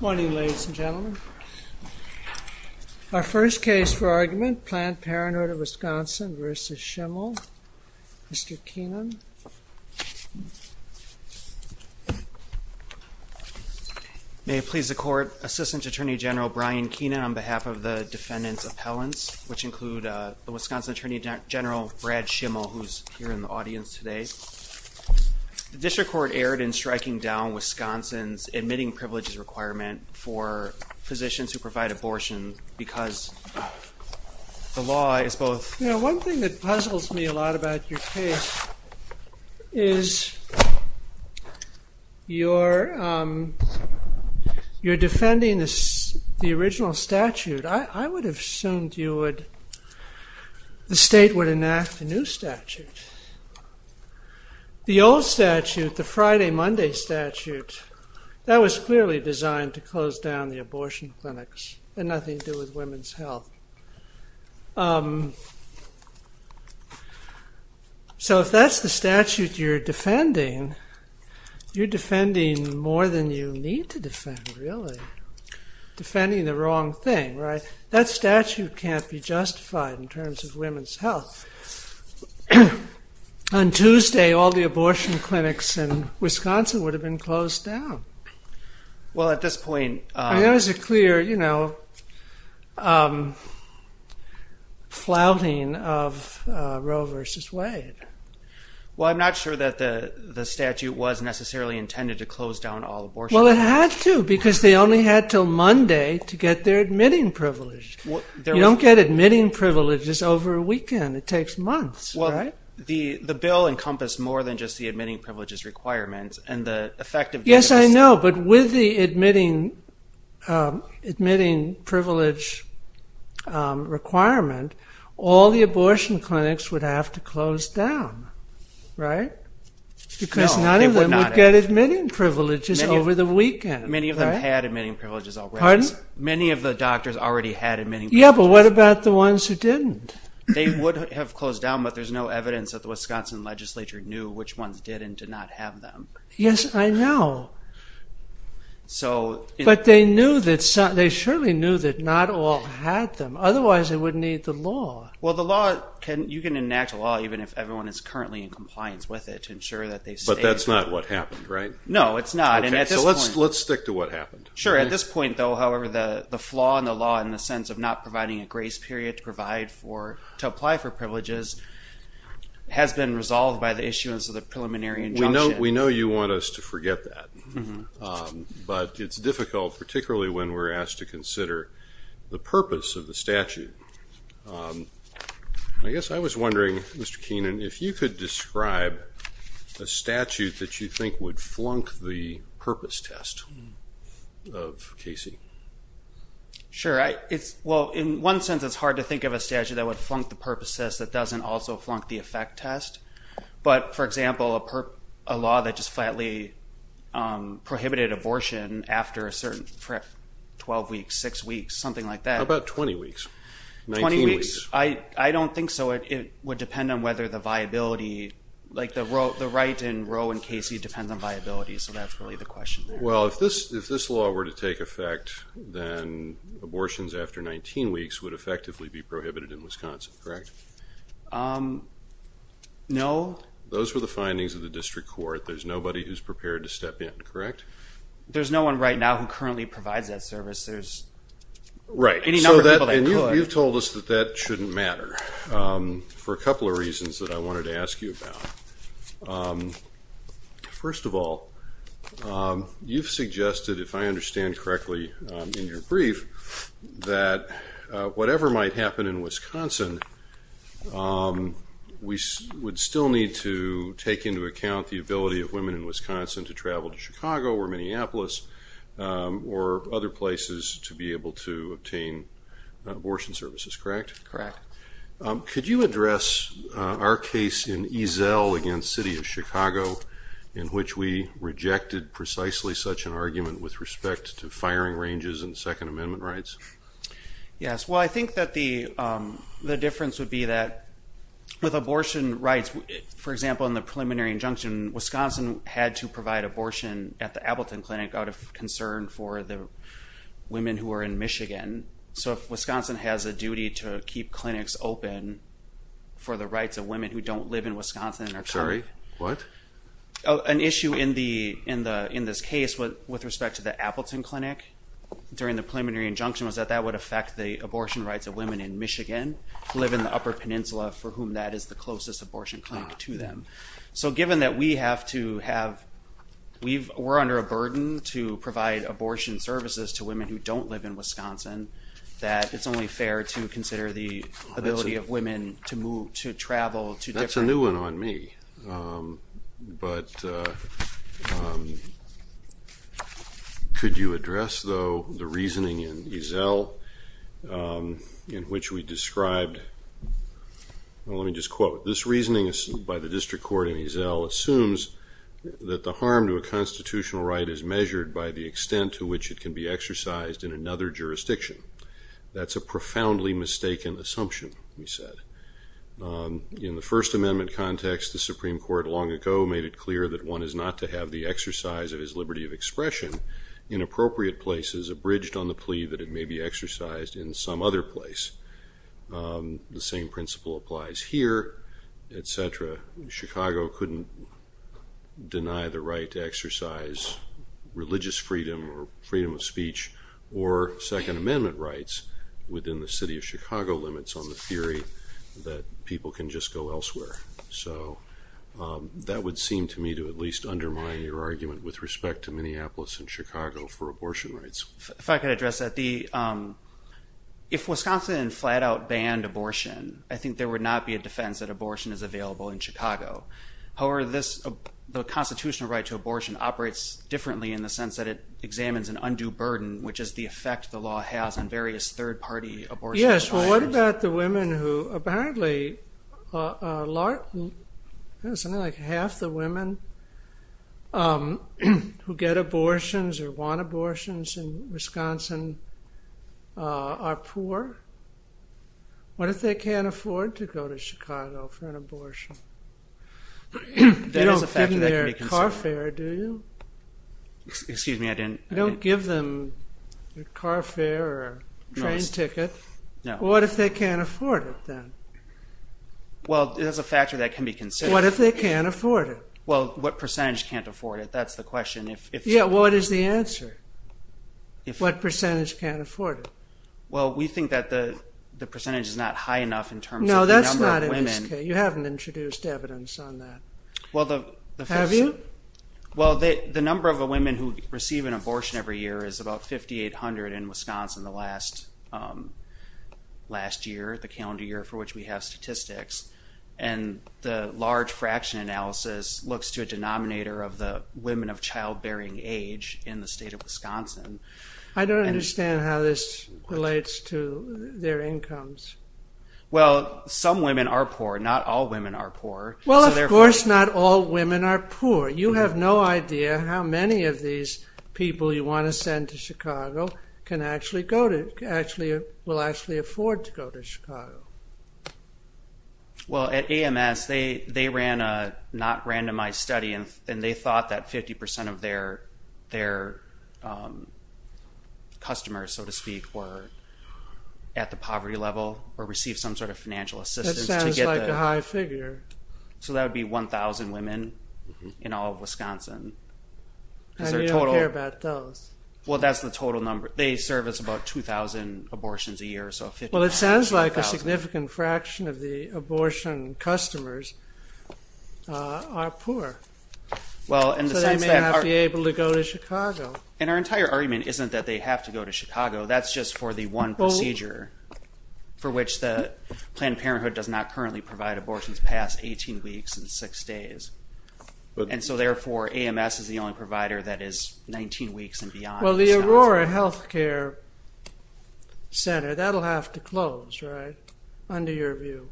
Morning ladies and gentlemen. Our first case for argument, Planned Parenthood of Wisconsin v. Schimel. Mr. Keenan. May it please the court, Assistant Attorney General Brian Keenan on behalf of the defendant's appellants, which include the Wisconsin Attorney General Brad Schimel, who's here in the audience today. The state would enact a new statute. The old statute, the Friday-Monday statute, that was clearly designed to close down the abortion clinics and nothing to do with women's health. So if that's the statute you're defending, you're defending more than you need to defend, really. Defending the wrong thing, right? That statute can't be justified in terms of women's health. On Tuesday, all the abortion clinics in Well, at this point... There was a clear, you know, flouting of Roe v. Wade. Well, I'm not sure that the statute was necessarily intended to close down all abortion clinics. Well, it had to, because they only had till Monday to get their admitting privilege. You don't get admitting privileges over a weekend. It takes months. Well, the bill encompassed more than just the admitting privileges requirements. Yes, I know, but with the admitting privilege requirement, all the abortion clinics would have to close down, right? Because none of them would get admitting privileges over the weekend. Many of them had admitting privileges already. Many of the doctors already had admitting privileges. Yeah, but what about the ones who didn't? They would have closed down, but there's no evidence that the Wisconsin legislature knew which ones did and did not have them. Yes, I know, but they surely knew that not all had them. Otherwise, they wouldn't need the law. Well, the law, you can enact a law even if everyone is currently in compliance with it to ensure that they... But that's not what happened, right? No, it's not. Let's stick to what happened. Sure, at this point, though, however, the flaw in the law in the sense of not providing a grace period to provide for, to apply for privileges has been resolved by the issuance of the preliminary injunction. We know you want us to forget that, but it's difficult, particularly when we're asked to consider the purpose of the statute. I guess I was wondering, Mr. Keenan, if you could describe a statute that you think would flunk the purpose test of Casey. Sure. Well, in one sense, it's hard to think of a statute that would flunk the purpose test that doesn't also flunk the effect test. But, for example, a law that just flatly prohibited abortion after a certain 12 weeks, 6 weeks, something like that. How about 20 weeks? 19 weeks? 20 weeks. I don't think so. It would depend on whether the viability, like the right in Roe and Casey depends on viability, so that's really the question there. Well, if this law were to take effect, then abortions after 19 weeks would effectively be prohibited in Wisconsin, correct? No. Those were the findings of the district court. There's nobody who's prepared to step in, correct? There's no one right now who currently provides that service. There's any number of people that could. You've told us that that shouldn't matter for a couple of reasons that I wanted to ask you about. First of all, you've suggested, if I understand correctly in your brief, that whatever might happen in Wisconsin, we would still need to take into account the ability of women in Wisconsin to travel to Chicago or Minneapolis or other places to be able to obtain abortion services, correct? Correct. Could you address our case in Eazell against City of Chicago in which we rejected precisely such an argument with respect to firing ranges and Second Amendment rights? Yes. Well, I think that the difference would be that with abortion rights, for example, in the preliminary injunction, Wisconsin had to provide abortion at the Appleton Clinic out of concern for the women who are in Michigan. So if Wisconsin has a duty to keep clinics open for the rights of women who don't live in Wisconsin and are coming... Sorry, what? An issue in this case with respect to the Appleton Clinic during the preliminary injunction was that that would affect the abortion rights of women in Michigan who live in the Upper Peninsula for whom that is the closest abortion clinic to them. So given that we have to have... We're under a burden to provide abortion services to women who don't live in Wisconsin, that it's only fair to consider the ability of women to move, to travel to different... That's a new one on me. But could you address though the reasoning in Eazell in which we described... Well, let me just quote. This reasoning by the district court in Eazell assumes that the harm to a constitutional right is measured by the extent to which it can be exercised in another jurisdiction. That's a profoundly mistaken assumption, we said. In the First Amendment context, the Supreme Court long ago made it clear that one is not to have the exercise of his liberty of expression in appropriate places abridged on the plea that it may be exercised in some other place. The same principle applies here, etc. Chicago couldn't deny the right to exercise religious freedom or freedom of speech or Second Amendment rights within the city of Chicago limits on the theory that people can just go elsewhere. So that would seem to me to at least undermine your argument with respect to Minneapolis and Chicago for abortion rights. If I could address that. If Wisconsin flat stands that abortion is available in Chicago. However, the constitutional right to abortion operates differently in the sense that it examines an undue burden, which is the effect the law has on various third party abortion... Yes. Well, what about the women who apparently... Half the women who get abortions or want abortions in Wisconsin are poor. What if they can't afford to go to Chicago for an abortion? You don't give them their car fare, do you? Excuse me, I didn't... You don't give them a car fare or a train ticket. No. What if they can't afford it then? Well, there's a factor that can be considered. What if they can't afford it? Well, what percentage can't afford it? That's the question. Yeah, what is the answer? What percentage can't afford it? Well, we think that the percentage is not high enough in terms of the number of women. No, that's not in this case. You haven't introduced evidence on that. Have you? Well, the number of women who receive an abortion every year is about 5,800 in Wisconsin the last year, the calendar year for which we have statistics. And the large fraction analysis looks to a denominator of the women of child-bearing age in the state of Wisconsin. I don't understand how this relates to their incomes. Well, some women are poor. Not all women are poor. Well, of course not all women are poor. You have no idea how many of these people you want to send to Chicago will actually afford to go to Chicago. Well, at AMS they ran a not randomized study and they thought that 50% of their customers, so to speak, were at the poverty level or received some sort of financial assistance to get the... That sounds like a high figure. So that would be 1,000 women in all of Wisconsin. And you don't care about those? Well, that's the total number. They serve us about 2,000 abortions a year. Well, it sounds like a significant fraction of the population would be able to go to Chicago. And our entire argument isn't that they have to go to Chicago. That's just for the one procedure for which the Planned Parenthood does not currently provide abortions past 18 weeks and six days. And so therefore, AMS is the only provider that is 19 weeks and beyond. Well, the Aurora Healthcare Center, that'll have to close, right? Under your view.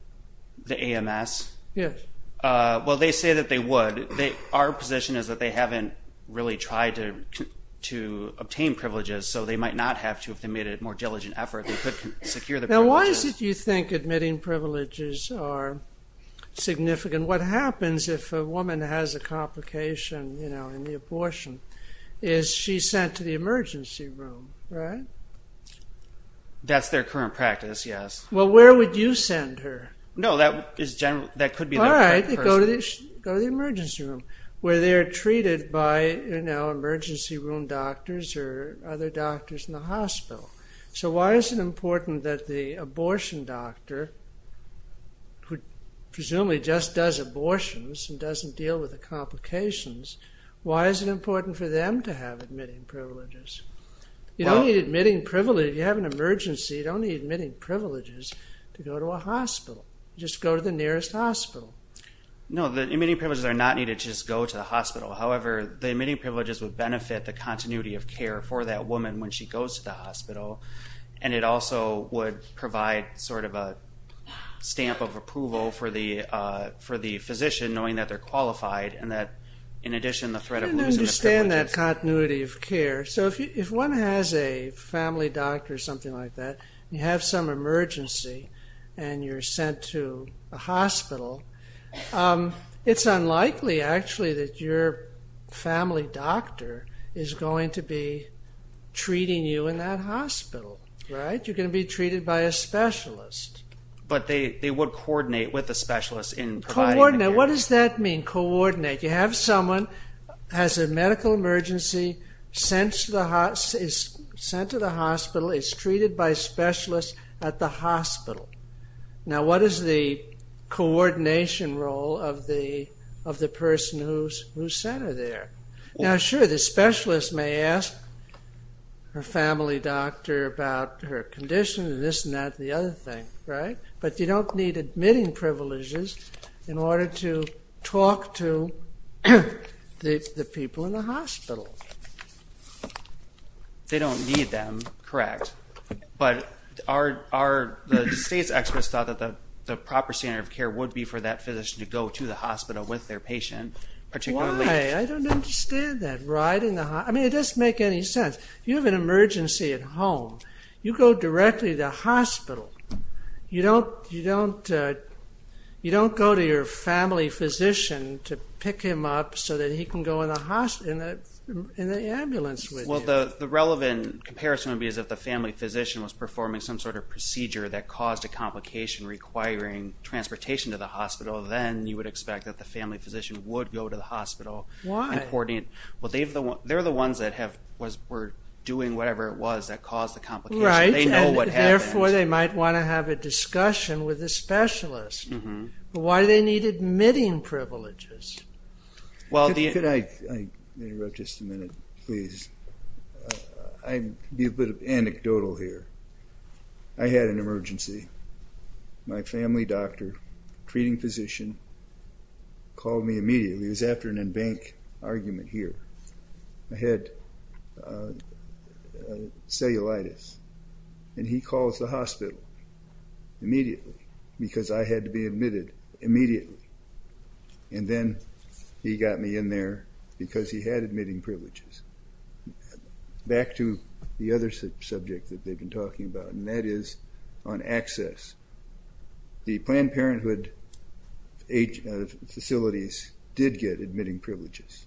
The AMS? Yes. Well, they say that they would. Our position is that they haven't really tried to obtain privileges, so they might not have to if they made a more diligent effort. They could secure the privileges. Now, why is it you think admitting privileges are significant? What happens if a woman has a complication in the abortion? Is she sent to the emergency room, right? That's their current practice, yes. Well, where would you send her? No, that could be their current person. All right, go to the emergency room, where they are treated by, you know, emergency room doctors or other doctors in the hospital. So why is it important that the abortion doctor, who presumably just does abortions and doesn't deal with the complications, why is it important for them to have admitting privileges? You don't need admitting privileges. If you have an emergency, you don't need admitting privileges to go to a hospital. Just go to the nearest hospital. No, the admitting privileges are not needed to just go to the hospital. However, the admitting privileges would benefit the continuity of care for that woman when she goes to the hospital, and it also would provide sort of a stamp of approval for the physician knowing that they're qualified and that, in addition, the threat of losing the privileges... I don't understand that continuity of care. So if one has a family doctor or something like that, and you have some emergency, and you're sent to a hospital, it's unlikely actually that your family doctor is going to be treating you in that hospital, right? You're going to be treated by a specialist. But they would coordinate with the specialist in providing the care. Coordinate? What does that mean, coordinate? You have someone, has a medical emergency, is sent to the hospital, is treated by a specialist at the hospital. Now, what is the coordination role of the person who sent her there? Now, sure, the specialist may ask her family doctor about her condition and this and that and the other thing, right? But you don't need admitting privileges in order to talk to the people in the hospital. They don't need them, correct. But the state's experts thought that the proper standard of care would be for that physician to go to the hospital with their patient, particularly... Why? I don't understand that. I mean, it doesn't make any sense. You have an emergency at home. You go directly to the hospital. You don't go to your family physician to pick him up so that he can go in the ambulance with you. Well, the relevant comparison would be as if the family physician was performing some sort of procedure that caused a complication requiring transportation to the hospital. Then you would expect that the family physician would go to the hospital. Why? Well, they're the ones that were doing whatever it was that caused the complication. They know what happened. Right, and therefore they might want to have a discussion with the specialist about why they needed admitting privileges. Could I interrupt just a minute, please? I'll be a bit anecdotal here. I had an emergency. My family doctor, treating physician, called me immediately. It was after an in-bank argument here. I had cellulitis, and he calls the hospital. I said, well, what's wrong? He said, well, I need to go in there immediately because I had to be admitted immediately. Then he got me in there because he had admitting privileges. Back to the other subject that they've been talking about, and that is on access. The Planned Parenthood facilities did get admitting privileges.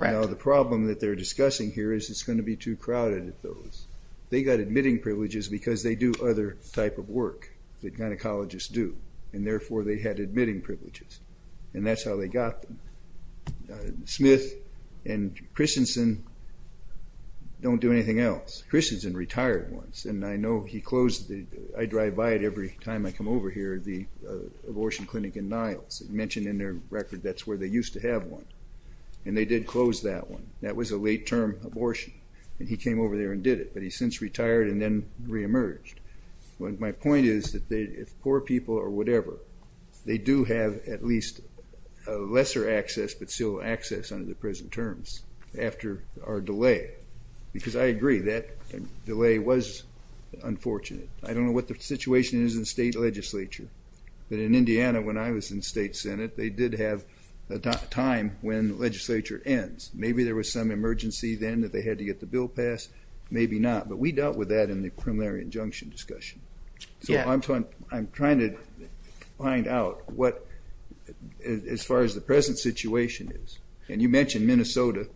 Now, the problem that they're discussing here is it's going to be too crowded at those. They got admitting privileges because they do other type of work that gynecologists do, and therefore they had admitting privileges, and that's how they got them. Smith and Christensen don't do anything else. Christensen retired once, and I know he closed the—I drive by it every time I come over here—the abortion clinic in Niles. It's mentioned in their record that's where they used to have one, and they did close that one. That was a late-term abortion, and he came over there and did it, but he's retired and then re-emerged. My point is that if poor people or whatever, they do have at least lesser access but still access under the present terms after our delay, because I agree that delay was unfortunate. I don't know what the situation is in state legislature, but in Indiana when I was in state senate, they did have a time when legislature ends. Maybe there was some emergency then that they had to get the bill passed, maybe not, but we dealt with that in the preliminary injunction discussion. So I'm trying to find out what, as far as the present situation is, and you mentioned Minnesota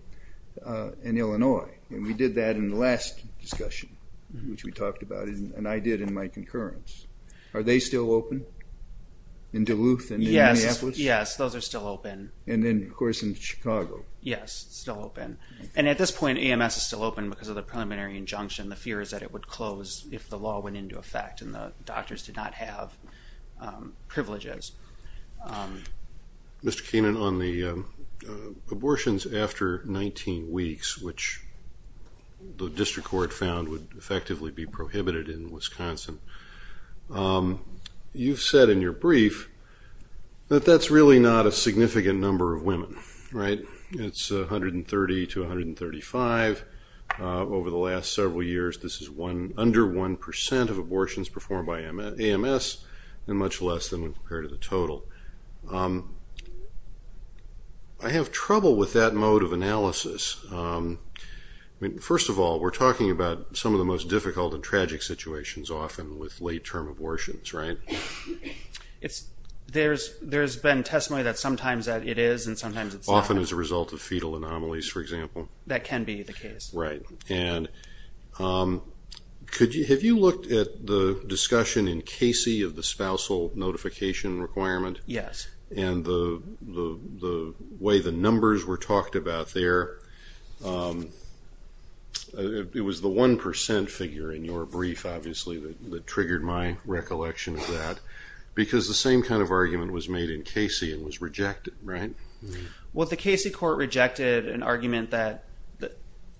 and Illinois, and we did that in the last discussion, which we talked about, and I did in my concurrence. Are they still open in Duluth and Minneapolis? Yes, those are still open. And then of course in Chicago. Yes, still open. And at this point, AMS is still open because of the preliminary injunction. The fear is that it would close if the law went into effect and the doctors did not have privileges. Mr. Keenan, on the abortions after 19 weeks, which the district court found would effectively be prohibited in Wisconsin, you've said in your brief that that's really not a significant number of women, right? It's 130 to 135 over the last several years. This is under 1% of abortions performed by AMS, and much less than compared to the total. I have trouble with that mode of analysis. First of all, we're talking about some of the most difficult and tragic situations often with late-term abortions, right? There's been testimony that sometimes it is and sometimes it's not. Often as a result of fetal anomalies, for example. That can be the case. Right. And have you looked at the discussion in Casey of the spousal notification requirement? Yes. And the way the numbers were talked about there, it was the 1% figure in your brief obviously that triggered my recollection of that, because the same kind of argument was made in Casey and was rejected, right? Well, the Casey court rejected an argument that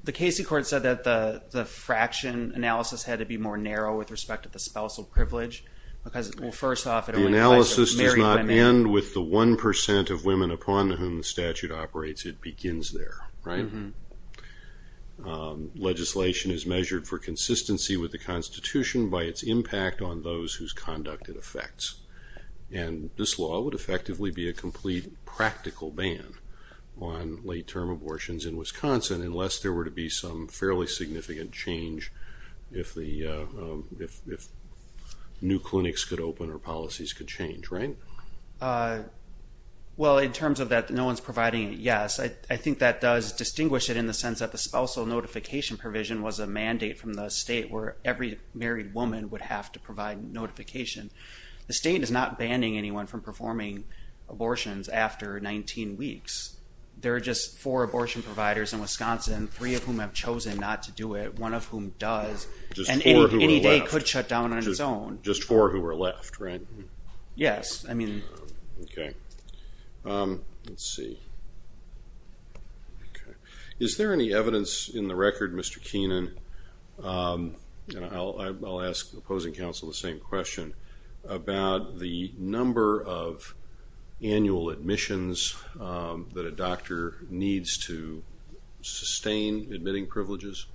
the Casey court said that the fraction analysis had to be more narrow with respect to the spousal privilege, because, well, first off, it only affects the married women. The analysis does not end with the 1% of women upon whom the statute operates. It begins there, right? Legislation is measured for consistency with the Constitution by its impact on those whose conduct it affects. And this law would effectively be a complete practical ban on late-term abortions in Wisconsin unless there were to be some fairly significant change if new clinics could open or policies could change, right? Well, in terms of that no one's providing it, yes. I think that does distinguish it in the sense that the spousal notification provision was a mandate from the state where every married woman would have to provide notification. The state is not banning anyone from performing abortions after 19 weeks. There are just four abortion providers in Wisconsin, three of whom have chosen not to do it, one of whom does, and any day could shut down on its own. Just four who were left, right? Yes. I mean... Okay. Let's see. Okay. Is there any evidence in the record, Mr. Keenan, and I'll ask opposing counsel the same question, about the number of annual admissions that a doctor needs to sustain admitting privileges?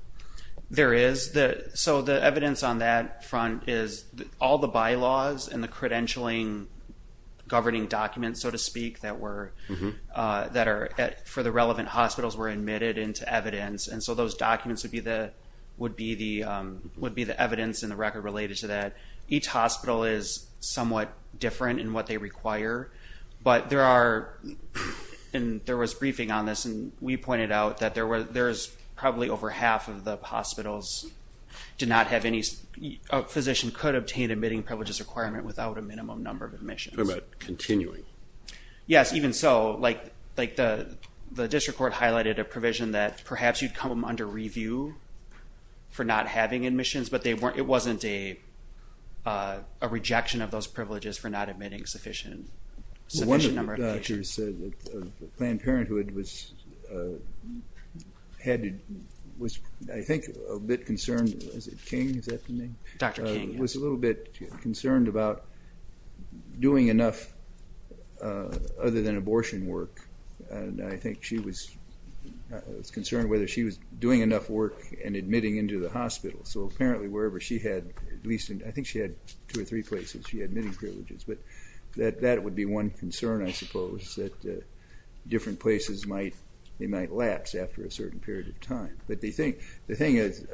There is. So the evidence on that front is all the bylaws and the credentialing governing documents, so to speak, that are for the relevant hospitals were admitted into evidence. And so those documents would be the evidence in the record related to that. Each hospital is somewhat different in what they require, but there are... And there was briefing on this and we pointed out that there is probably over half of the hospitals did not have any... A physician could obtain admitting privileges requirement without a minimum number of admissions. Continuing. Yes. Even so, like the district court highlighted a provision that perhaps you'd come under review for not having admissions, but it wasn't a rejection of those privileges for not admitting sufficient number of patients. Well, one of the doctors said that Planned Parenthood was, I think, a bit concerned. Was it King? Is that the name? Dr. King, yes. Was a little bit concerned about doing enough other than abortion work, and I think she was concerned whether she was doing enough work and admitting into the hospital. So apparently wherever she had, at least, I think she had two or three places, she had many privileges, but that would be one concern, I suppose, that different places might lapse after a certain period of time. But the thing is,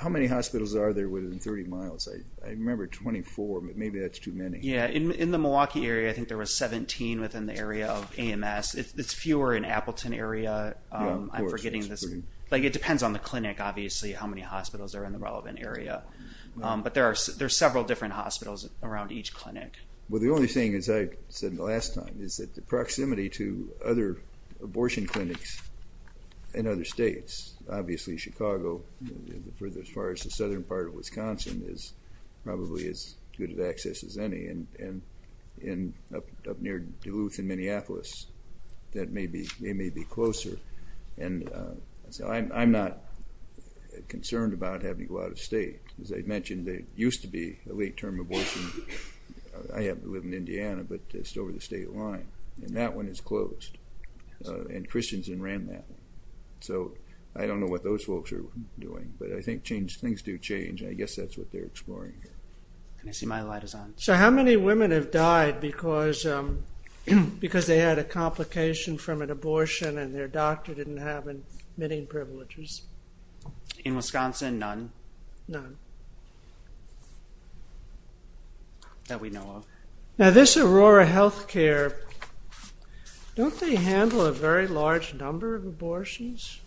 how many hospitals are there within 30 miles? I remember 24, but maybe that's too many. Yeah. In the Milwaukee area, I think there was 17 within the area of AMS. It's fewer in Appleton area. I'm forgetting this, but it depends on the clinic, obviously, how many hospitals are in the relevant area. But there are several different hospitals around each clinic. Well, the only thing, as I said the last time, is that the proximity to other abortion clinics in other states, obviously Chicago, as far as the southern part of Wisconsin, is probably as good of access as any, and up near Duluth and Minneapolis, they may be closer. So I am not concerned about having to go out of state. As I mentioned, there used to be a late-term abortion. I happen to live in Indiana, but it's over the state line, and that one is closed, and Christians in Rand, so I don't know what those folks are doing. But I think things do change, and I guess that's what they're exploring. I see my light is on. So how many women have died because they had a complication from an abortion and their abortions? In Wisconsin, none. None. That we know of. Now this Aurora Healthcare, don't they handle a very large number of abortions?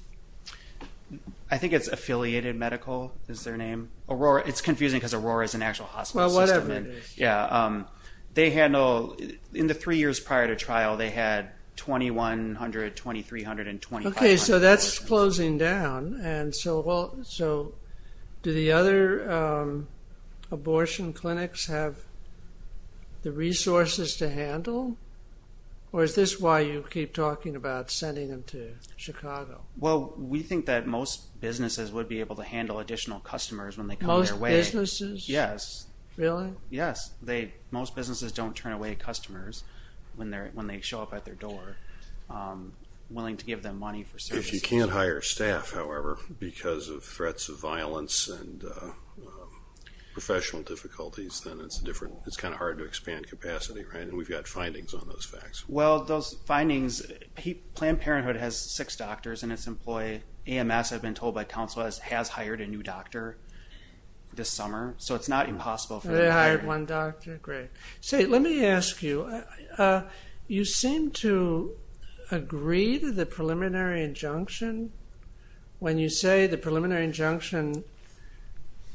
I think it's Affiliated Medical, is their name. It's confusing because Aurora is an actual hospital system. Well, whatever it is. They handle, in the three years prior to trial, they had 2,100, 2,300, and 2,500 abortions. So that's closing down. Do the other abortion clinics have the resources to handle, or is this why you keep talking about sending them to Chicago? We think that most businesses would be able to handle additional customers when they come their way. Most businesses? Yes. Really? Yes. Most businesses don't turn away customers when they show up at their door, willing to give them money for services. If you can't hire staff, however, because of threats of violence and professional difficulties, then it's a different, it's kind of hard to expand capacity, right? And we've got findings on those facts. Well, those findings, Planned Parenthood has six doctors and its employee, AMS, I've been told by counsel, has hired a new doctor this summer. So it's not impossible for them to hire. They hired one doctor? Great. Let me ask you, you seem to agree to the preliminary injunction. When you say the preliminary injunction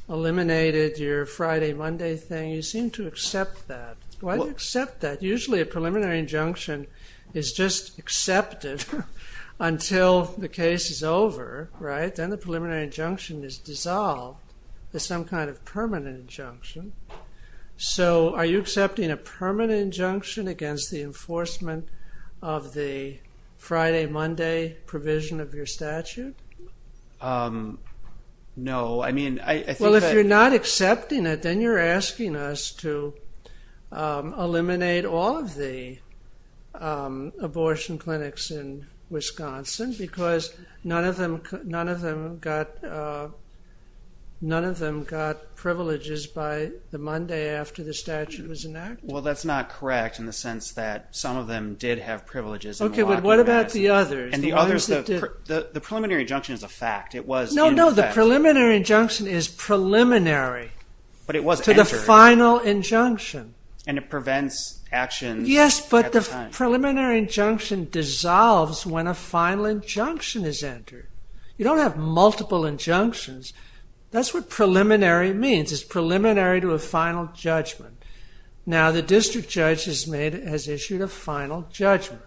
eliminated your Friday, Monday thing, you seem to accept that. Why do you accept that? Usually a preliminary injunction is just accepted until the case is over, right? Then the preliminary injunction is dissolved to some kind of permanent injunction. So are you accepting a permanent injunction against the enforcement of the Friday, Monday provision of your statute? No, I mean, I think that... Well, if you're not accepting it, then you're asking us to eliminate all of the abortion cases. None of them got privileges by the Monday after the statute was enacted. Well, that's not correct in the sense that some of them did have privileges. Okay, but what about the others? The preliminary injunction is a fact. It was in effect. No, no, the preliminary injunction is preliminary to the final injunction. And it prevents actions at the time. Yes, but the preliminary injunction dissolves when a final injunction is entered. You don't have multiple injunctions. That's what preliminary means. It's preliminary to a final judgment. Now the district judge has issued a final judgment.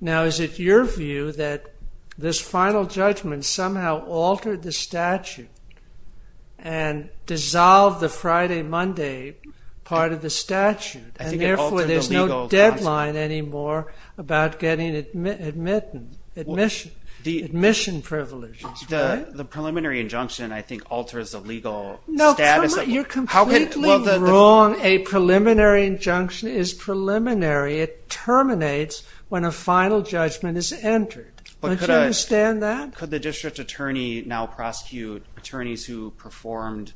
Now is it your view that this final judgment somehow altered the statute and dissolved the Friday, Monday part of the statute and therefore there's no deadline anymore about getting admission privileges? The preliminary injunction, I think, alters the legal status. No, you're completely wrong. A preliminary injunction is preliminary. It terminates when a final judgment is entered. Don't you understand that? Could the district attorney now prosecute attorneys who performed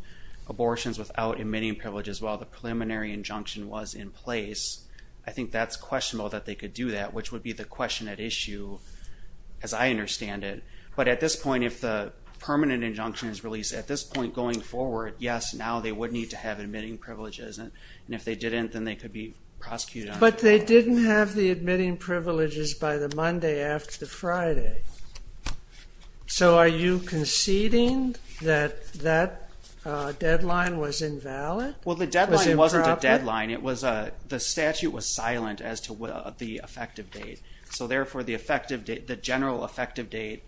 abortions without admitting privileges while the preliminary injunction was in place? I think that's questionable that they could do that, which would be the question at issue as I understand it. But at this point, if the permanent injunction is released, at this point going forward, yes, now they would need to have admitting privileges. And if they didn't, then they could be prosecuted. But they didn't have the admitting privileges by the Monday after Friday. So are you conceding that that deadline was invalid? Well, the deadline wasn't a deadline. The statute was silent as to the effective date. So therefore, the general effective date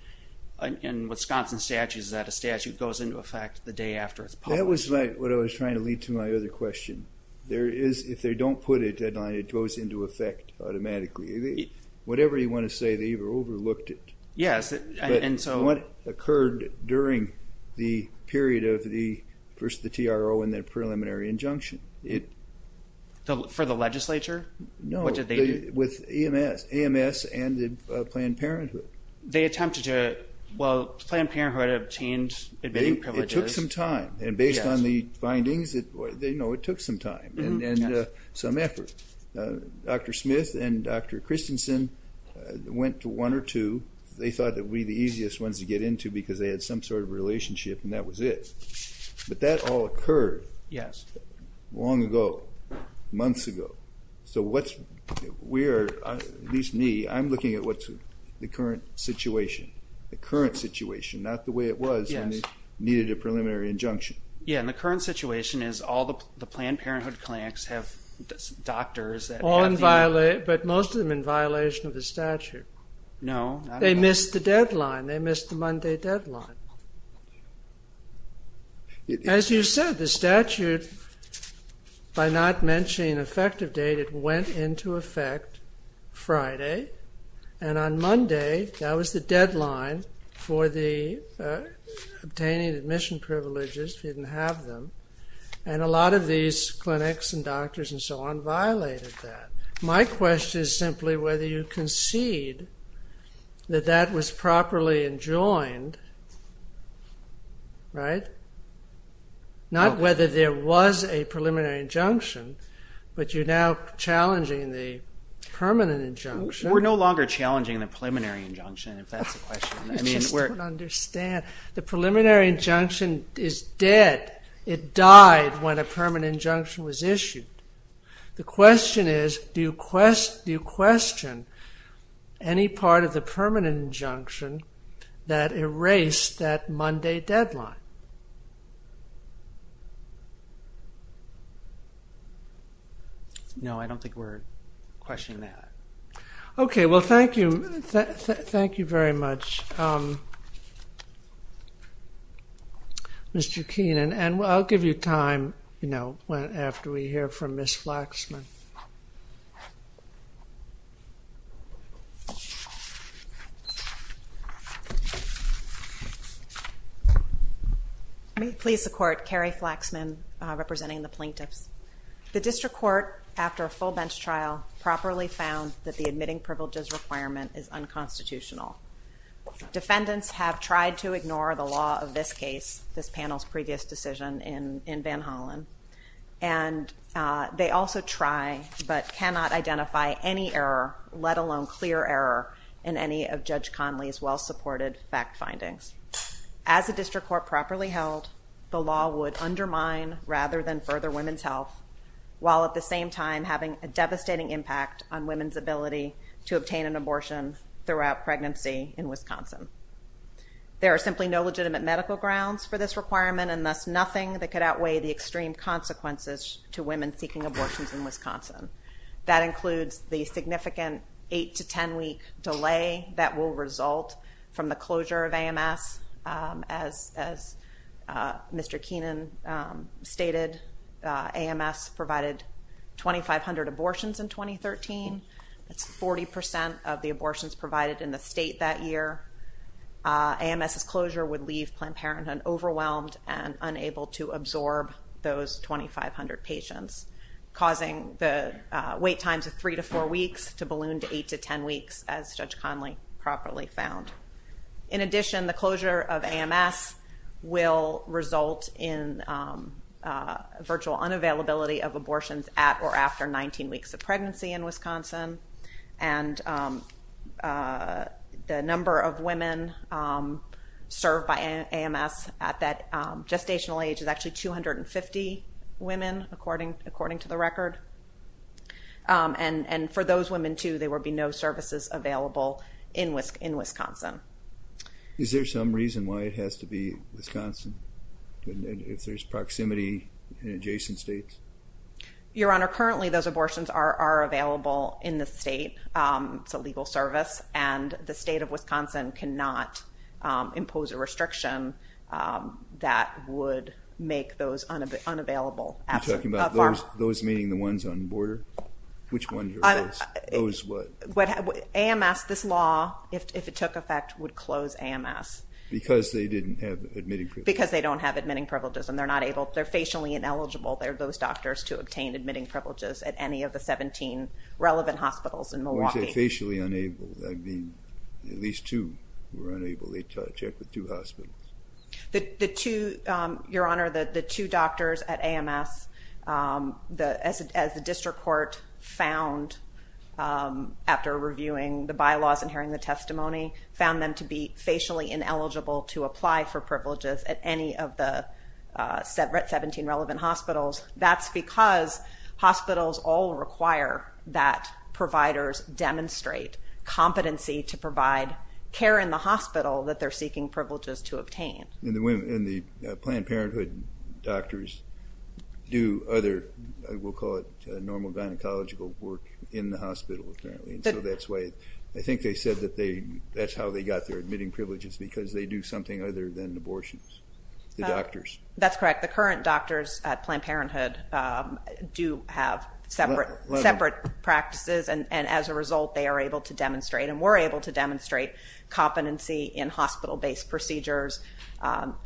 in Wisconsin statutes is that a statute goes into effect the day after it's published. That was what I was trying to lead to my other question. There is, if they don't put a deadline, it goes into effect automatically. Whatever you want to say, they overlooked it. Yes, and so... What occurred during the period of the, first the TRO and then preliminary injunction, it... For the legislature? No, with AMS and Planned Parenthood. They attempted to, well, Planned Parenthood obtained admitting privileges. It took some time. And based on the findings, they know it took some time and some effort. Dr. Smith and Dr. Christensen went to one or two. They thought that we'd be the easiest ones to get into because they had some sort of relationship and that was it. But that all occurred long ago, months ago. So what's, we are, at least me, I'm looking at what's the current situation. The current situation, not the way it was when they needed a preliminary injunction. Yeah, and the current situation is all the Planned Parenthood clinics have doctors that... All in violation, but most of them in violation of the statute. No. They missed the deadline. They missed the Monday deadline. As you said, the statute, by not mentioning effective date, it went into effect Friday. And on Monday, that was the deadline for the obtaining admission privileges if you didn't have them. And a lot of these clinics and doctors and so on violated that. My question is simply whether you concede that that was properly enjoined, right? Not whether there was a preliminary injunction, but you're now challenging the permanent injunction. We're no longer challenging the preliminary injunction, if that's the question. I just don't understand. The preliminary injunction is dead. It died when a permanent injunction was issued. The question is, do you question any part of the permanent injunction that erased that Monday deadline? No, I don't think we're questioning that. Okay, well thank you very much, Mr. Keenan. And I'll give you time after we hear from Ms. Flaxman. May it please the Court, Carrie Flaxman representing the plaintiffs. The district court, after a full bench trial, properly found that the admitting privileges requirement is unconstitutional. Defendants have tried to ignore the law of this case, this panel's previous decision in Van Hollen. And they also try but cannot identify any error, let alone clear error, in any of Judge Conley's well-supported fact findings. As the district court properly held, the law would undermine rather than further women's health, while at the same time having a devastating impact on women's ability to obtain an abortion throughout pregnancy in Wisconsin. There are simply no legitimate medical grounds for this requirement, and thus nothing that could outweigh the extreme consequences to women seeking abortions in Wisconsin. That includes the significant 8 to 10 week delay that will result from the Mr. Keenan stated. AMS provided 2,500 abortions in 2013. That's 40% of the abortions provided in the state that year. AMS's closure would leave Planned Parenthood overwhelmed and unable to absorb those 2,500 patients, causing the wait times of 3 to 4 weeks to balloon to 8 to 10 weeks, as Judge Conley properly found. In addition, the closure of AMS will result in virtual unavailability of abortions at or after 19 weeks of pregnancy in Wisconsin. And the number of women served by AMS at that gestational age is actually 250 women, according to the record. And for those women, too, there will be no services available in Wisconsin. Is there some reason why it has to be Wisconsin, if there's proximity in adjacent states? Your Honor, currently those abortions are available in the state. It's a legal service, and the state of Wisconsin cannot impose a restriction that would make those unavailable You're talking about those, meaning the ones on border? Which ones are those? Those what? AMS, this law, if it took effect, would close AMS. Because they didn't have admitting privileges. Because they don't have admitting privileges, and they're not able, they're facially ineligible, those doctors, to obtain admitting privileges at any of the 17 relevant hospitals in Milwaukee. When you say facially unable, I mean, at least two were unable. They checked with two hospitals. Your Honor, the two doctors at AMS, as the district court found after reviewing the bylaws and hearing the testimony, found them to be facially ineligible to apply for privileges at any of the 17 relevant hospitals. That's because hospitals all require that providers demonstrate competency to provide care in the hospital that they're seeking privileges to obtain. And the Planned Parenthood doctors do other, we'll call it, normal gynecological work in the hospital, apparently. So that's why, I think they said that's how they got their admitting privileges, because they do something other than abortions, the doctors. That's correct. The current doctors at Planned Parenthood do have separate practices, and as a result, they are able to demonstrate, and were able to demonstrate, competency in hospital-based procedures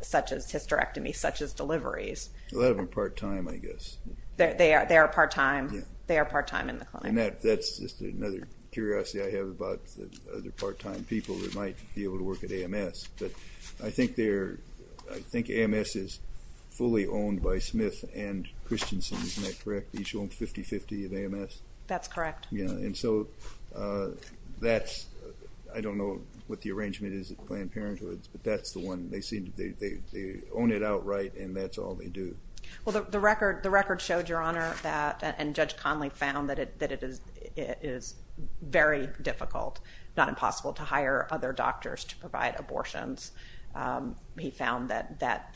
such as hysterectomy, such as deliveries. A lot of them are part-time, I guess. They are part-time. They are part-time in the clinic. And that's just another curiosity I have about other part-time people that might be able to work at AMS. But I think AMS is fully owned by Smith and Christensen, isn't that correct? They each own 50-50 of AMS? That's correct. And so that's, I don't know what the arrangement is at Planned Parenthood, but that's the one, they own it outright, and that's all they do. Well, the record showed, Your Honor, and Judge Conley found that it is very difficult, if not impossible, to hire other doctors to provide abortions. He found that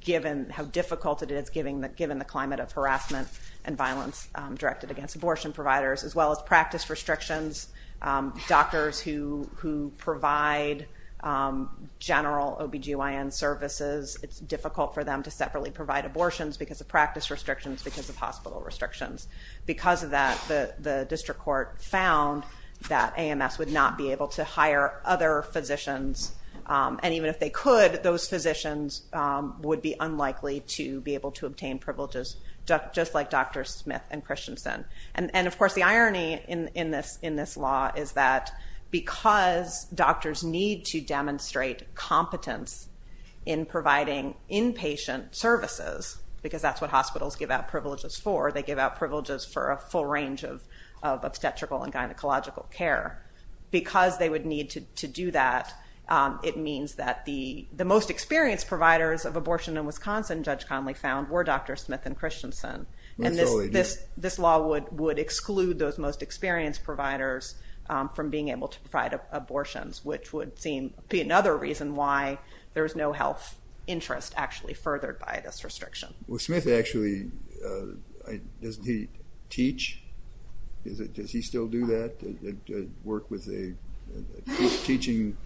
given how difficult it is, given the climate of harassment and violence directed against abortion providers, as well as practice restrictions, doctors who provide general OB-GYN services, it's difficult for them to separately provide abortions because of practice restrictions, because of hospital restrictions. Because of that, the district court found that AMS would not be able to hire other physicians, and even if they could, those physicians would be unlikely to be able to obtain privileges, just like Dr. Smith and Christensen. And, of course, the irony in this law is that because doctors need to demonstrate competence in providing inpatient services, because that's what hospitals give out privileges for, they give out privileges for a full range of obstetrical and gynecological care, because they would need to do that, it means that the most experienced providers of abortion in Wisconsin, Judge Conley found, were Dr. Smith and Christensen. And this law would exclude those most experienced providers from being able to provide abortions, which would be another reason why there's no health interest actually furthered by this restriction. Well, Smith actually, doesn't he teach? Does he still do that, work with teaching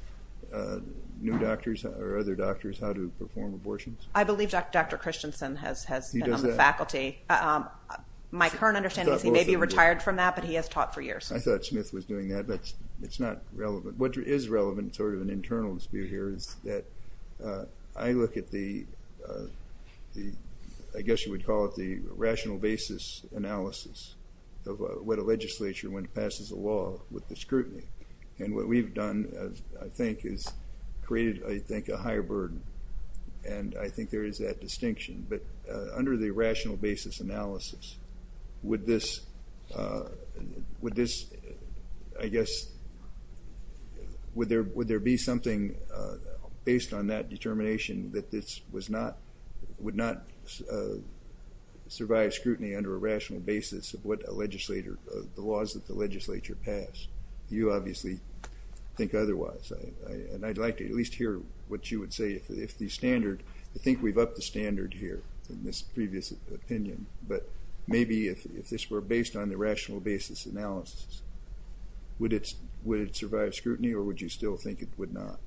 new doctors or other doctors how to perform abortions? I believe Dr. Christensen has been on the faculty. He does that? My current understanding is he may be retired from that, but he has taught for years. I thought Smith was doing that, but it's not relevant. What is relevant, sort of an internal dispute here, is that I look at the, I guess you would call it the rational basis analysis of what a legislature, when it passes a law, with the scrutiny. And what we've done, I think, is created, I think, a higher burden. And I think there is that distinction. But under the rational basis analysis, would this, I guess, would there be something based on that determination that this would not survive scrutiny under a rational basis of what a legislator, the laws that the legislature pass? You obviously think otherwise. And I'd like to at least hear what you would say if the standard, I think we've upped the standard here in this previous opinion. But maybe if this were based on the rational basis analysis, would it survive scrutiny or would you still think it would not?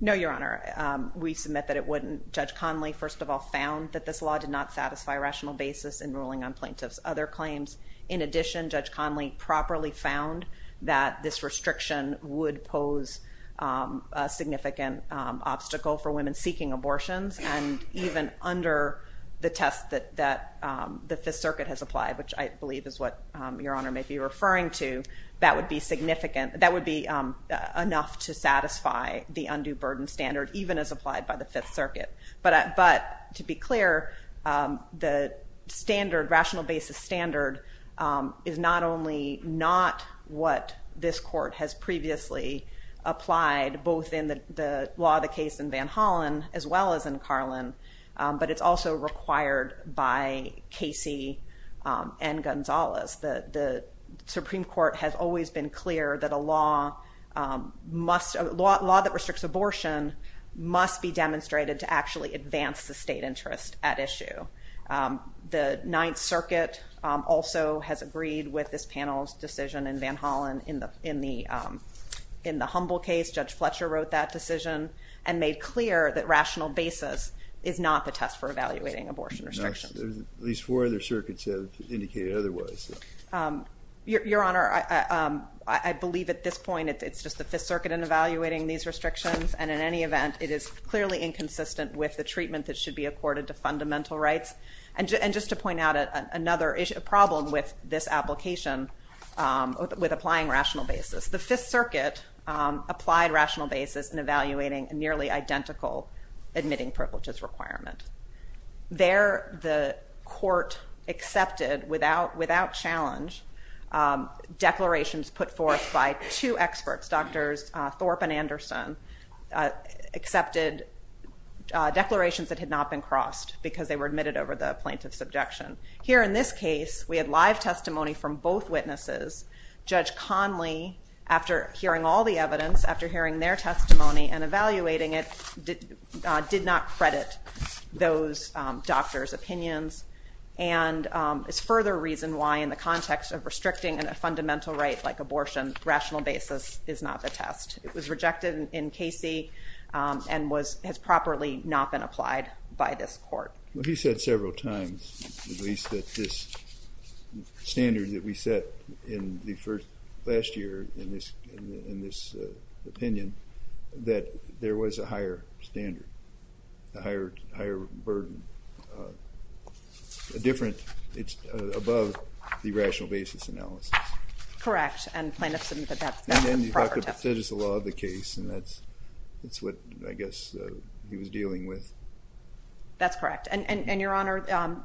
No, Your Honor. We submit that it wouldn't. Judge Conley, first of all, found that this law did not satisfy rational basis in ruling on plaintiff's other claims. In addition, Judge Conley properly found that this restriction would pose a significant obstacle for women seeking abortions. And even under the test that the Fifth Circuit has applied, which I believe is what Your Honor may be referring to, that would be enough to satisfy the undue burden standard, even as applied by the Fifth Circuit. But to be clear, the standard, rational basis standard, is not only not what this court has previously applied both in the law of the case in Van Hollen as well as in Carlin, but it's also required by Casey and Gonzalez. The Supreme Court has always been clear that a law that restricts abortion must be demonstrated to actually advance the state interest at issue. The Ninth Circuit also has agreed with this panel's decision in Van Hollen. In the Humble case, Judge Fletcher wrote that decision and made clear that rational basis is not the test for evaluating abortion restrictions. These four other circuits have indicated otherwise. Your Honor, I believe at this point it's just the Fifth Circuit in evaluating these restrictions, and in any event, it is clearly inconsistent with the treatment that should be accorded to fundamental rights. And just to point out another problem with this application, with applying rational basis, the Fifth Circuit applied rational basis in evaluating a nearly identical admitting privileges requirement. There, the court accepted without challenge declarations put forth by two experts, Doctors Thorpe and Anderson, accepted declarations that had not been crossed because they were admitted over the plaintiff's objection. Here in this case, we had live testimony from both witnesses. Judge Conley, after hearing all the evidence, after hearing their testimony and evaluating it, did not credit those doctors' opinions, and is further reason why in the context of restricting a fundamental right like abortion, rational basis is not the test. It was rejected in Casey and has properly not been applied by this court. Well, he said several times, at least, that this standard that we set last year in this opinion, that there was a higher standard, a higher burden, a different, it's above the rational basis analysis. Correct, and the plaintiff said that that's the proper test. And then you have the prestigious law of the case, and that's what, I guess, he was dealing with. That's correct, and, Your Honor,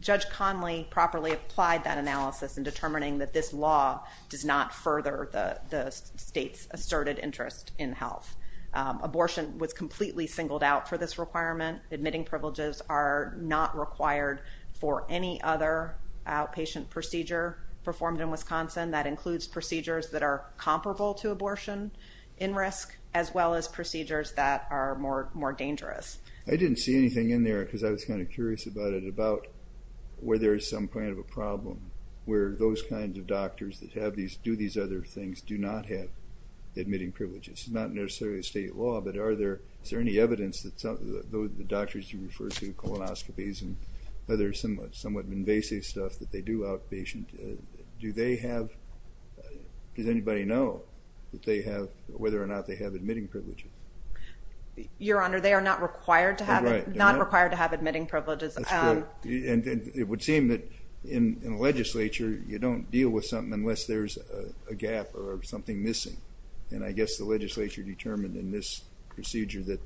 Judge Conley properly applied that analysis in determining that this law does not further the state's asserted interest in health. Abortion was completely singled out for this requirement. Admitting privileges are not required for any other outpatient procedure performed in Wisconsin that includes procedures that are comparable to abortion in risk as well as procedures that are more dangerous. I didn't see anything in there because I was kind of curious about it, about where there is some kind of a problem where those kinds of doctors that do these other things do not have admitting privileges. It's not necessarily a state law, but is there any evidence that the doctors you refer to, colonoscopies and other somewhat invasive stuff that they do outpatient, do they have, does anybody know whether or not they have admitting privileges? Your Honor, they are not required to have admitting privileges. That's correct, and it would seem that in the legislature you don't deal with something unless there's a gap or something missing, and I guess the legislature determined in this procedure that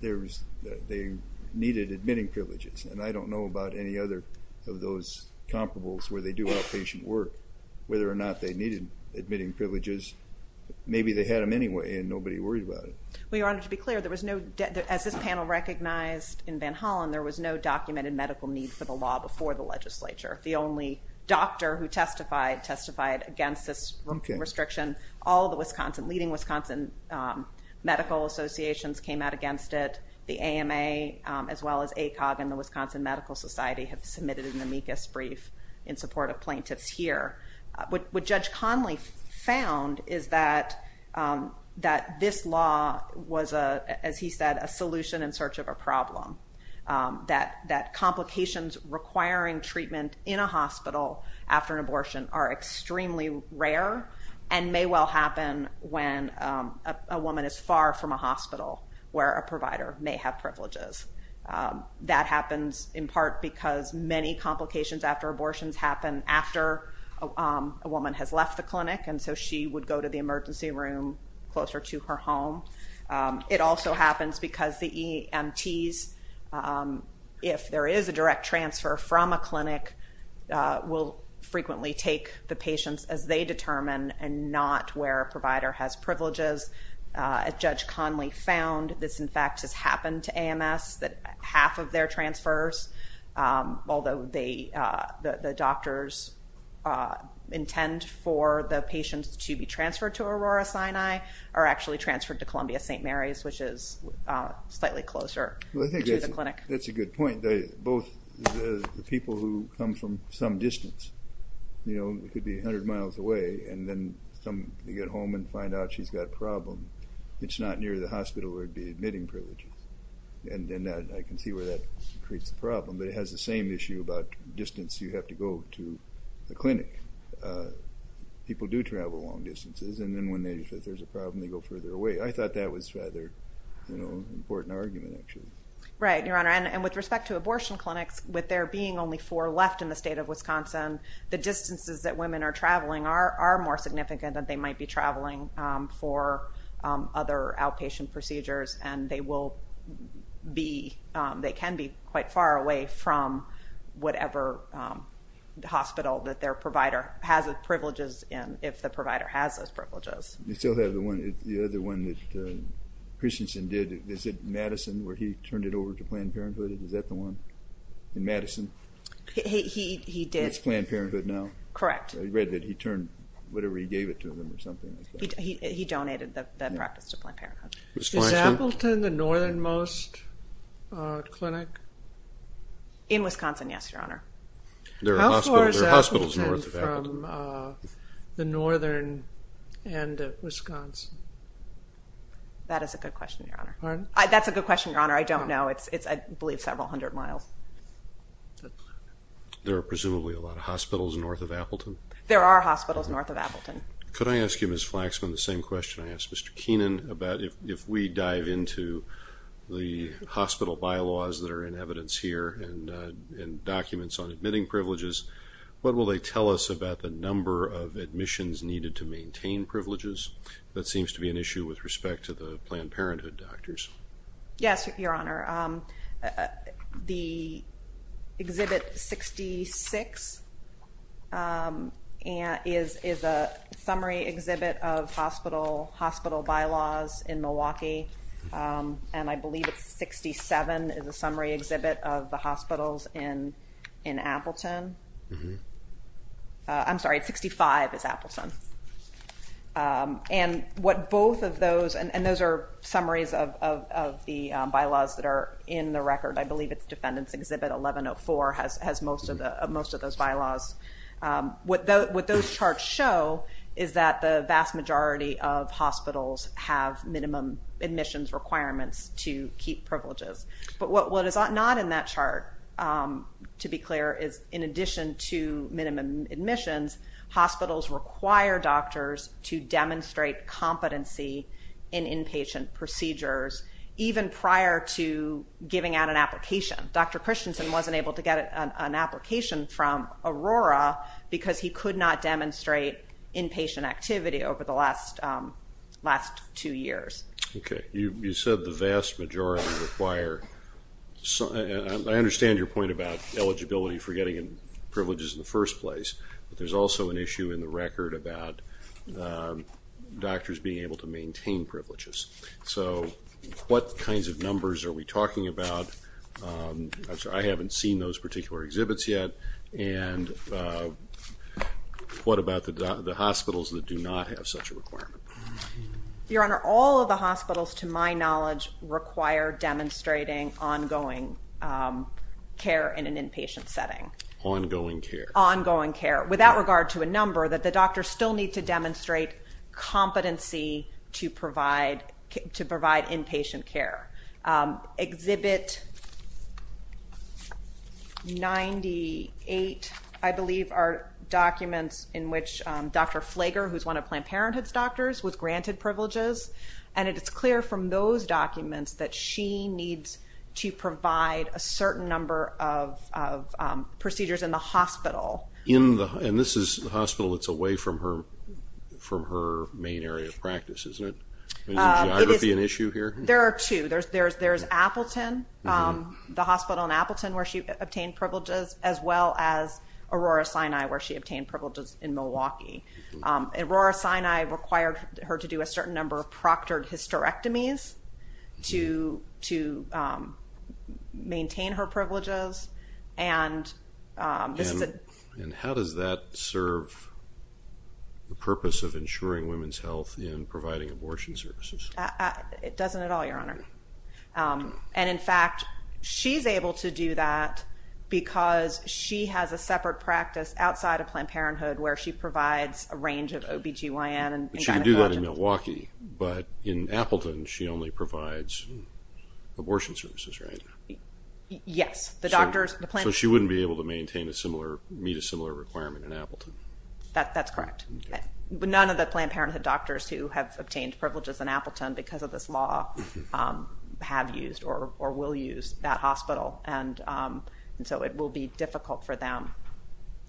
they needed admitting privileges, and I don't know about any other of those comparables where they do outpatient work, whether or not they needed admitting privileges. Maybe they had them anyway and nobody worried about it. Well, Your Honor, to be clear, as this panel recognized in Van Hollen, there was no documented medical need for the law before the legislature. The only doctor who testified testified against this restriction. All of the leading Wisconsin medical associations came out against it. The AMA as well as ACOG and the Wisconsin Medical Society have submitted an amicus brief in support of plaintiffs here. What Judge Conley found is that this law was, as he said, a solution in search of a problem, that complications requiring treatment in a hospital after an abortion are extremely rare and may well happen when a woman is far from a hospital where a provider may have privileges. That happens in part because many complications after abortions happen after a woman has left the clinic and so she would go to the emergency room closer to her home. It also happens because the EMTs, if there is a direct transfer from a clinic, will frequently take the patients as they determine and not where a provider has privileges. As Judge Conley found, this, in fact, has happened to AMS, that half of their transfers, although the doctors intend for the patients to be transferred to Aurora-Sinai, are actually transferred to Columbia-St. Mary's, which is slightly closer to the clinic. That's a good point. Both the people who come from some distance, you know, it could be 100 miles away, and then some get home and find out she's got a problem. It's not near the hospital where it would be admitting privileges. And I can see where that creates a problem. But it has the same issue about distance you have to go to the clinic. People do travel long distances, and then when there's a problem, they go further away. I thought that was a rather important argument, actually. Right, Your Honor. And with respect to abortion clinics, with there being only four left in the state of Wisconsin, the distances that women are traveling are more significant than they might be traveling for other outpatient procedures. And they can be quite far away from whatever hospital that their provider has privileges in, if the provider has those privileges. You still have the other one that Christensen did. Is it Madison where he turned it over to Planned Parenthood? Is that the one in Madison? He did. It's Planned Parenthood now? Correct. I read that he turned whatever he gave it to them or something like that. He donated the practice to Planned Parenthood. Is Appleton the northernmost clinic? In Wisconsin, yes, Your Honor. How far is Appleton from the northern end of Wisconsin? That is a good question, Your Honor. Pardon? That's a good question, Your Honor. I don't know. I believe it's several hundred miles. There are presumably a lot of hospitals north of Appleton. There are hospitals north of Appleton. Could I ask you, Ms. Flaxman, the same question I asked Mr. Keenan, about if we dive into the hospital bylaws that are in evidence here and documents on admitting privileges, what will they tell us about the number of admissions needed to maintain privileges? That seems to be an issue with respect to the Planned Parenthood doctors. Yes, Your Honor. The Exhibit 66 is a summary exhibit of hospital bylaws in Milwaukee, and I believe it's 67 is a summary exhibit of the hospitals in Appleton. I'm sorry, 65 is Appleton. And what both of those, and those are summaries of the bylaws that are in the record. I believe it's Defendant's Exhibit 1104 has most of those bylaws. What those charts show is that the vast majority of hospitals have minimum admissions requirements to keep privileges. But what is not in that chart, to be clear, is in addition to minimum admissions, hospitals require doctors to demonstrate competency in inpatient procedures, even prior to giving out an application. Dr. Christensen wasn't able to get an application from Aurora because he could not demonstrate inpatient activity over the last two years. Okay. You said the vast majority require. I understand your point about eligibility for getting privileges in the first place, but there's also an issue in the record about doctors being able to maintain privileges. So what kinds of numbers are we talking about? I haven't seen those particular exhibits yet. And what about the hospitals that do not have such a requirement? Your Honor, all of the hospitals, to my knowledge, require demonstrating ongoing care in an inpatient setting. Ongoing care. Ongoing care, without regard to a number, that the doctors still need to demonstrate competency to provide inpatient care. Exhibit 98, I believe, are documents in which Dr. Flager, who's one of Planned Parenthood's doctors, was granted privileges. And it's clear from those documents that she needs to provide a certain number of procedures in the hospital. And this is the hospital that's away from her main area of practice, isn't it? Is geography an issue here? There are two. There's Appleton, the hospital in Appleton, where she obtained privileges, as well as Aurora Sinai, where she obtained privileges in Milwaukee. Aurora Sinai required her to do a certain number of proctored hysterectomies to maintain her privileges. And this is a... And how does that serve the purpose of ensuring women's health in providing abortion services? It doesn't at all, Your Honor. And, in fact, she's able to do that because she has a separate practice outside of OBGYN and gynecology. But she can do that in Milwaukee. But in Appleton, she only provides abortion services, right? Yes. So she wouldn't be able to meet a similar requirement in Appleton? That's correct. But none of the Planned Parenthood doctors who have obtained privileges in Appleton because of this law have used or will use that hospital. And so it will be difficult for them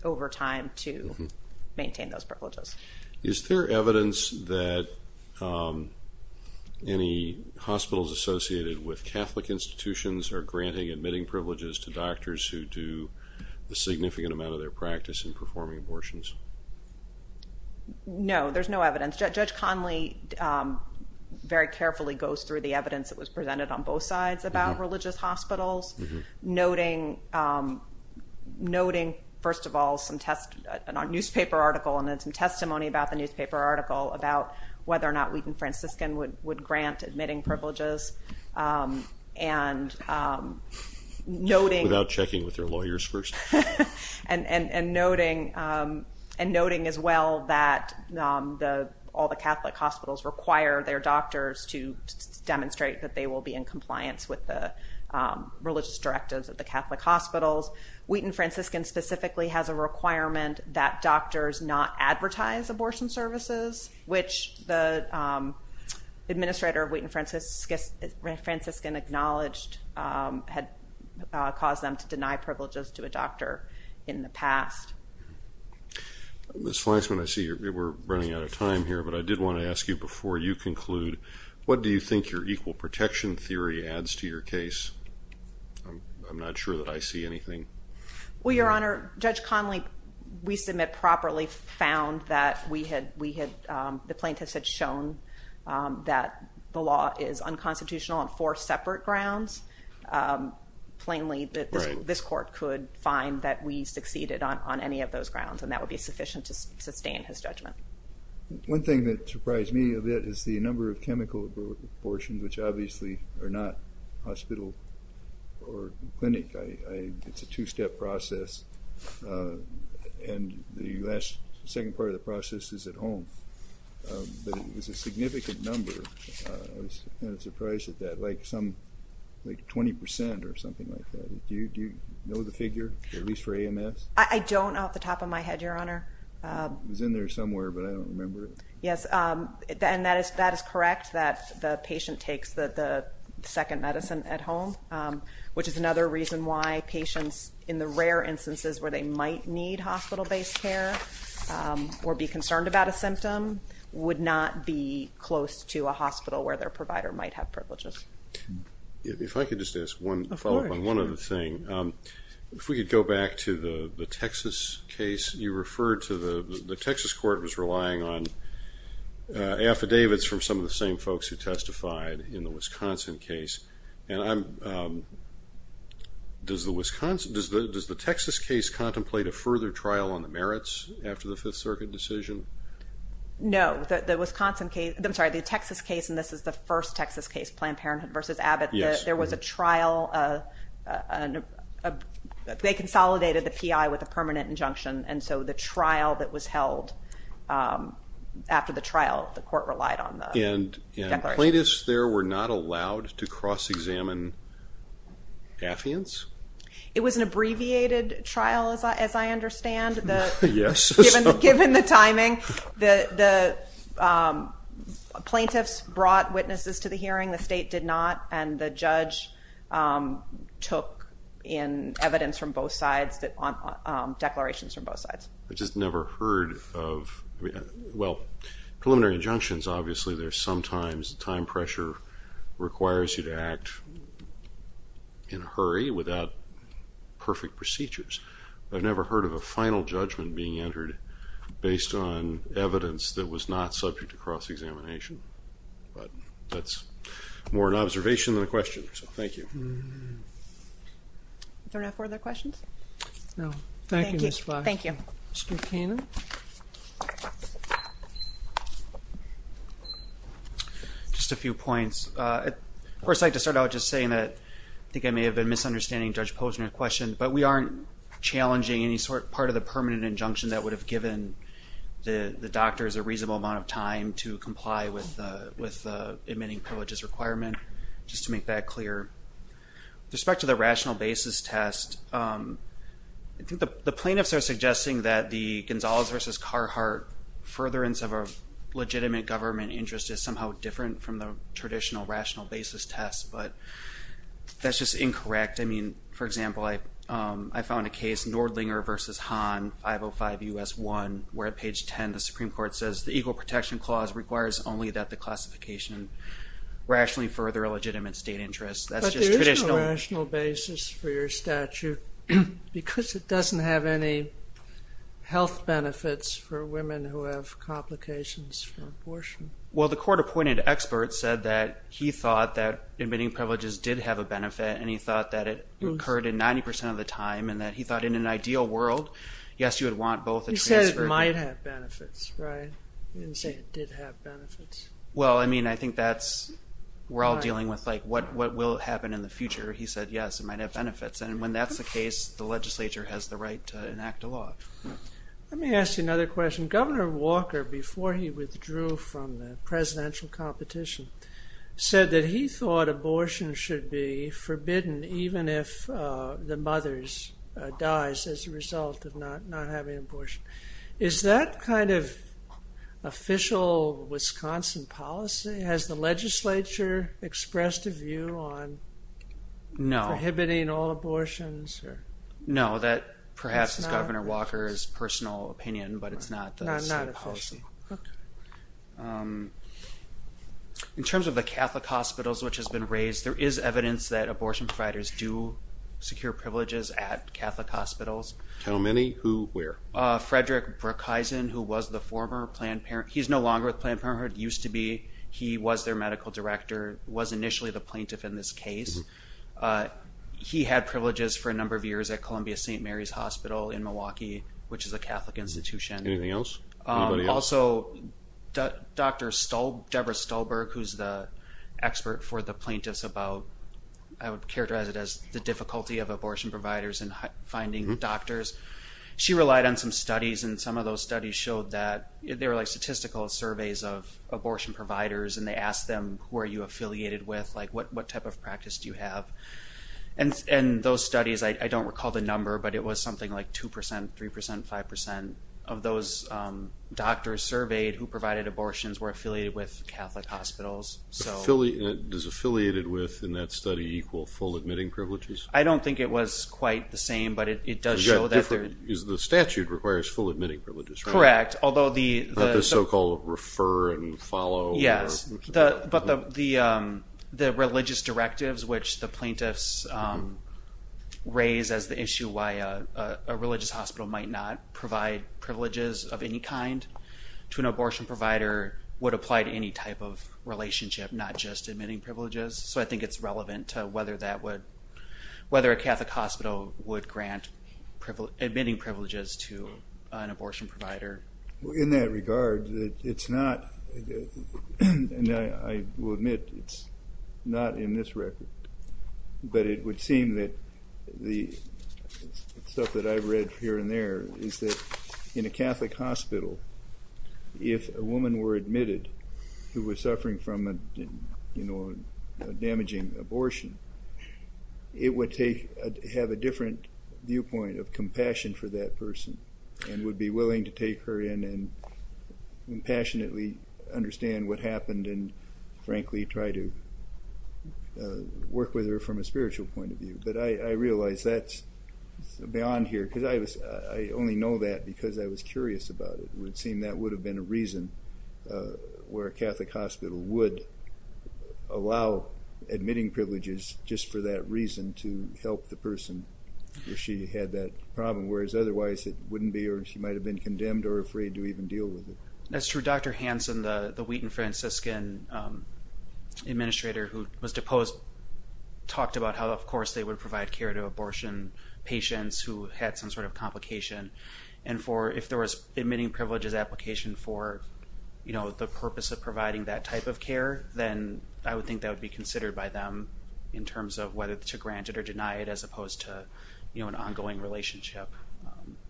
over time to maintain those privileges. Is there evidence that any hospitals associated with Catholic institutions are granting admitting privileges to doctors who do a significant amount of their practice in performing abortions? No, there's no evidence. Judge Conley very carefully goes through the evidence that was presented on both sides about religious hospitals, noting, first of all, a newspaper article and then some testimony about the newspaper article about whether or not Wheaton Franciscan would grant admitting privileges. Without checking with their lawyers first? And noting as well that all the Catholic hospitals require their doctors to meet compliance with the religious directives of the Catholic hospitals. Wheaton Franciscan specifically has a requirement that doctors not advertise abortion services, which the administrator of Wheaton Franciscan acknowledged had caused them to deny privileges to a doctor in the past. Ms. Fleischman, I see we're running out of time here, but I did want to ask you before you conclude, what do you think your equal protection theory adds to your case? I'm not sure that I see anything. Well, Your Honor, Judge Conley, we submit properly, found that the plaintiffs had shown that the law is unconstitutional on four separate grounds. Plainly, this court could find that we succeeded on any of those grounds, and that would be sufficient to sustain his judgment. One thing that surprised me a bit is the number of chemical abortions, which obviously are not hospital or clinic. It's a two-step process, and the second part of the process is at home. But it's a significant number. I was kind of surprised at that, like 20% or something like that. Do you know the figure, at least for AMS? I don't off the top of my head, Your Honor. It was in there somewhere, but I don't remember it. Yes, and that is correct, that the patient takes the second medicine at home, which is another reason why patients, in the rare instances where they might need hospital-based care or be concerned about a symptom, would not be close to a hospital where their provider might have privileges. If I could just ask one follow-up on one other thing. If we could go back to the Texas case. You referred to the Texas court was relying on affidavits from some of the same folks who testified in the Wisconsin case. Does the Texas case contemplate a further trial on the merits after the Fifth Circuit decision? No. The Texas case, and this is the first Texas case, Planned Parenthood v. Abbott. Yes. There was a trial. They consolidated the P.I. with a permanent injunction, and so the trial that was held, after the trial, the court relied on the declaration. And plaintiffs there were not allowed to cross-examine affiants? It was an abbreviated trial, as I understand. Yes. Given the timing, the plaintiffs brought witnesses to the hearing. The state did not, and the judge took in evidence from both sides, declarations from both sides. I've just never heard of, well, preliminary injunctions, obviously there's sometimes time pressure requires you to act in a hurry without perfect procedures. I've never heard of a final judgment being entered based on evidence that was not subject to cross-examination. But that's more an observation than a question, so thank you. Do we have any further questions? No. Thank you, Ms. Fosh. Thank you. Mr. Cannon. Just a few points. First, I'd like to start out just saying that I think I may have been misunderstanding Judge Posner's question, but we aren't challenging any sort of permanent injunction that would have given the doctors a reasonable amount of time to comply with the admitting privileges requirement, just to make that clear. With respect to the rational basis test, I think the plaintiffs are suggesting that the Gonzalez v. Carhartt furtherance of a legitimate government interest is somehow different from the traditional rational basis test, but that's just incorrect. I mean, for example, I found a case, Nordlinger v. Hahn, 505 U.S. 1, where at page 10 the Supreme Court says, the equal protection clause requires only that the classification rationally further a legitimate state interest. That's just traditional. But there is no rational basis for your statute because it doesn't have any health benefits for women who have complications for abortion. Well, the court-appointed expert said that he thought that admitting privileges did have a benefit, and he thought that it occurred in 90% of the time, and that he thought in an ideal world, yes, you would want both. He said it might have benefits, right? He didn't say it did have benefits. Well, I mean, I think that's-we're all dealing with, like, what will happen in the future. He said, yes, it might have benefits. And when that's the case, the legislature has the right to enact a law. Let me ask you another question. Governor Walker, before he withdrew from the presidential competition, said that he thought abortion should be forbidden even if the mother dies as a result of not having an abortion. Is that kind of official Wisconsin policy? Has the legislature expressed a view on prohibiting all abortions? No, that perhaps is Governor Walker's personal opinion, but it's not the state policy. In terms of the Catholic hospitals, which has been raised, there is evidence that abortion providers do secure privileges at Catholic hospitals. How many? Who? Where? Frederick Brookhisen, who was the former Planned Parenthood-he's no longer with Planned Parenthood, used to be. He was their medical director, was initially the plaintiff in this case. He had privileges for a number of years at Columbia St. Mary's Hospital in Milwaukee, which is a Catholic institution. Anything else? Anybody else? Also, Dr. Deborah Stolberg, who's the expert for the plaintiffs about, I would characterize it as the difficulty of abortion providers in finding doctors. She relied on some studies, and some of those studies showed that there were statistical surveys of abortion providers, and they asked them, who are you affiliated with? What type of practice do you have? And those studies, I don't recall the number, but it was something like 2%, 3%, 5% of those doctors surveyed who provided abortions were affiliated with Catholic hospitals. Does affiliated with, in that study, equal full admitting privileges? I don't think it was quite the same, but it does show that there is. The statute requires full admitting privileges, right? Correct. Not the so-called refer and follow. Yes, but the religious directives which the plaintiffs raise as the issue why a religious hospital might not provide privileges of any kind to an abortion provider would apply to any type of relationship, not just admitting privileges. So I think it's relevant to whether a Catholic hospital would grant admitting privileges to an abortion provider. In that regard, it's not, and I will admit it's not in this record, but it would seem that the stuff that I've read here and there is that in a Catholic hospital, if a woman were admitted who was suffering from a damaging abortion, it would have a different viewpoint of compassion for that person and would be willing to take her in and passionately understand what happened and, frankly, try to work with her from a spiritual point of view. But I realize that's beyond here because I only know that because I was curious about it. It would seem that would have been a reason where a Catholic hospital would allow admitting privileges just for that reason to help the person if she had that problem, whereas otherwise it wouldn't be or she might have been condemned or afraid to even deal with it. That's true. Dr. Hansen, the Wheaton-Franciscan administrator who was deposed, talked about how, of course, they would provide care to abortion patients who had some sort of complication. And if there was admitting privileges application for the purpose of providing that type of care, then I would think that would be considered by them in terms of whether to grant it or deny it as opposed to an ongoing relationship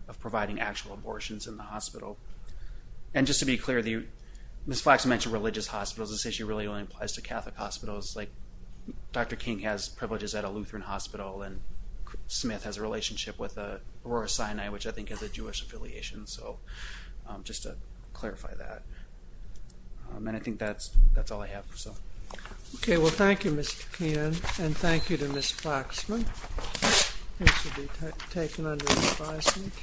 of providing actual abortions in the hospital. And just to be clear, Ms. Flax mentioned religious hospitals. This issue really only applies to Catholic hospitals. Dr. King has privileges at a Lutheran hospital, and Smith has a relationship with Aurora Sinai, which I think has a Jewish affiliation. So just to clarify that. And I think that's all I have. Okay, well, thank you, Mr. King, and thank you to Ms. Flaxman. This will be taken under advisement.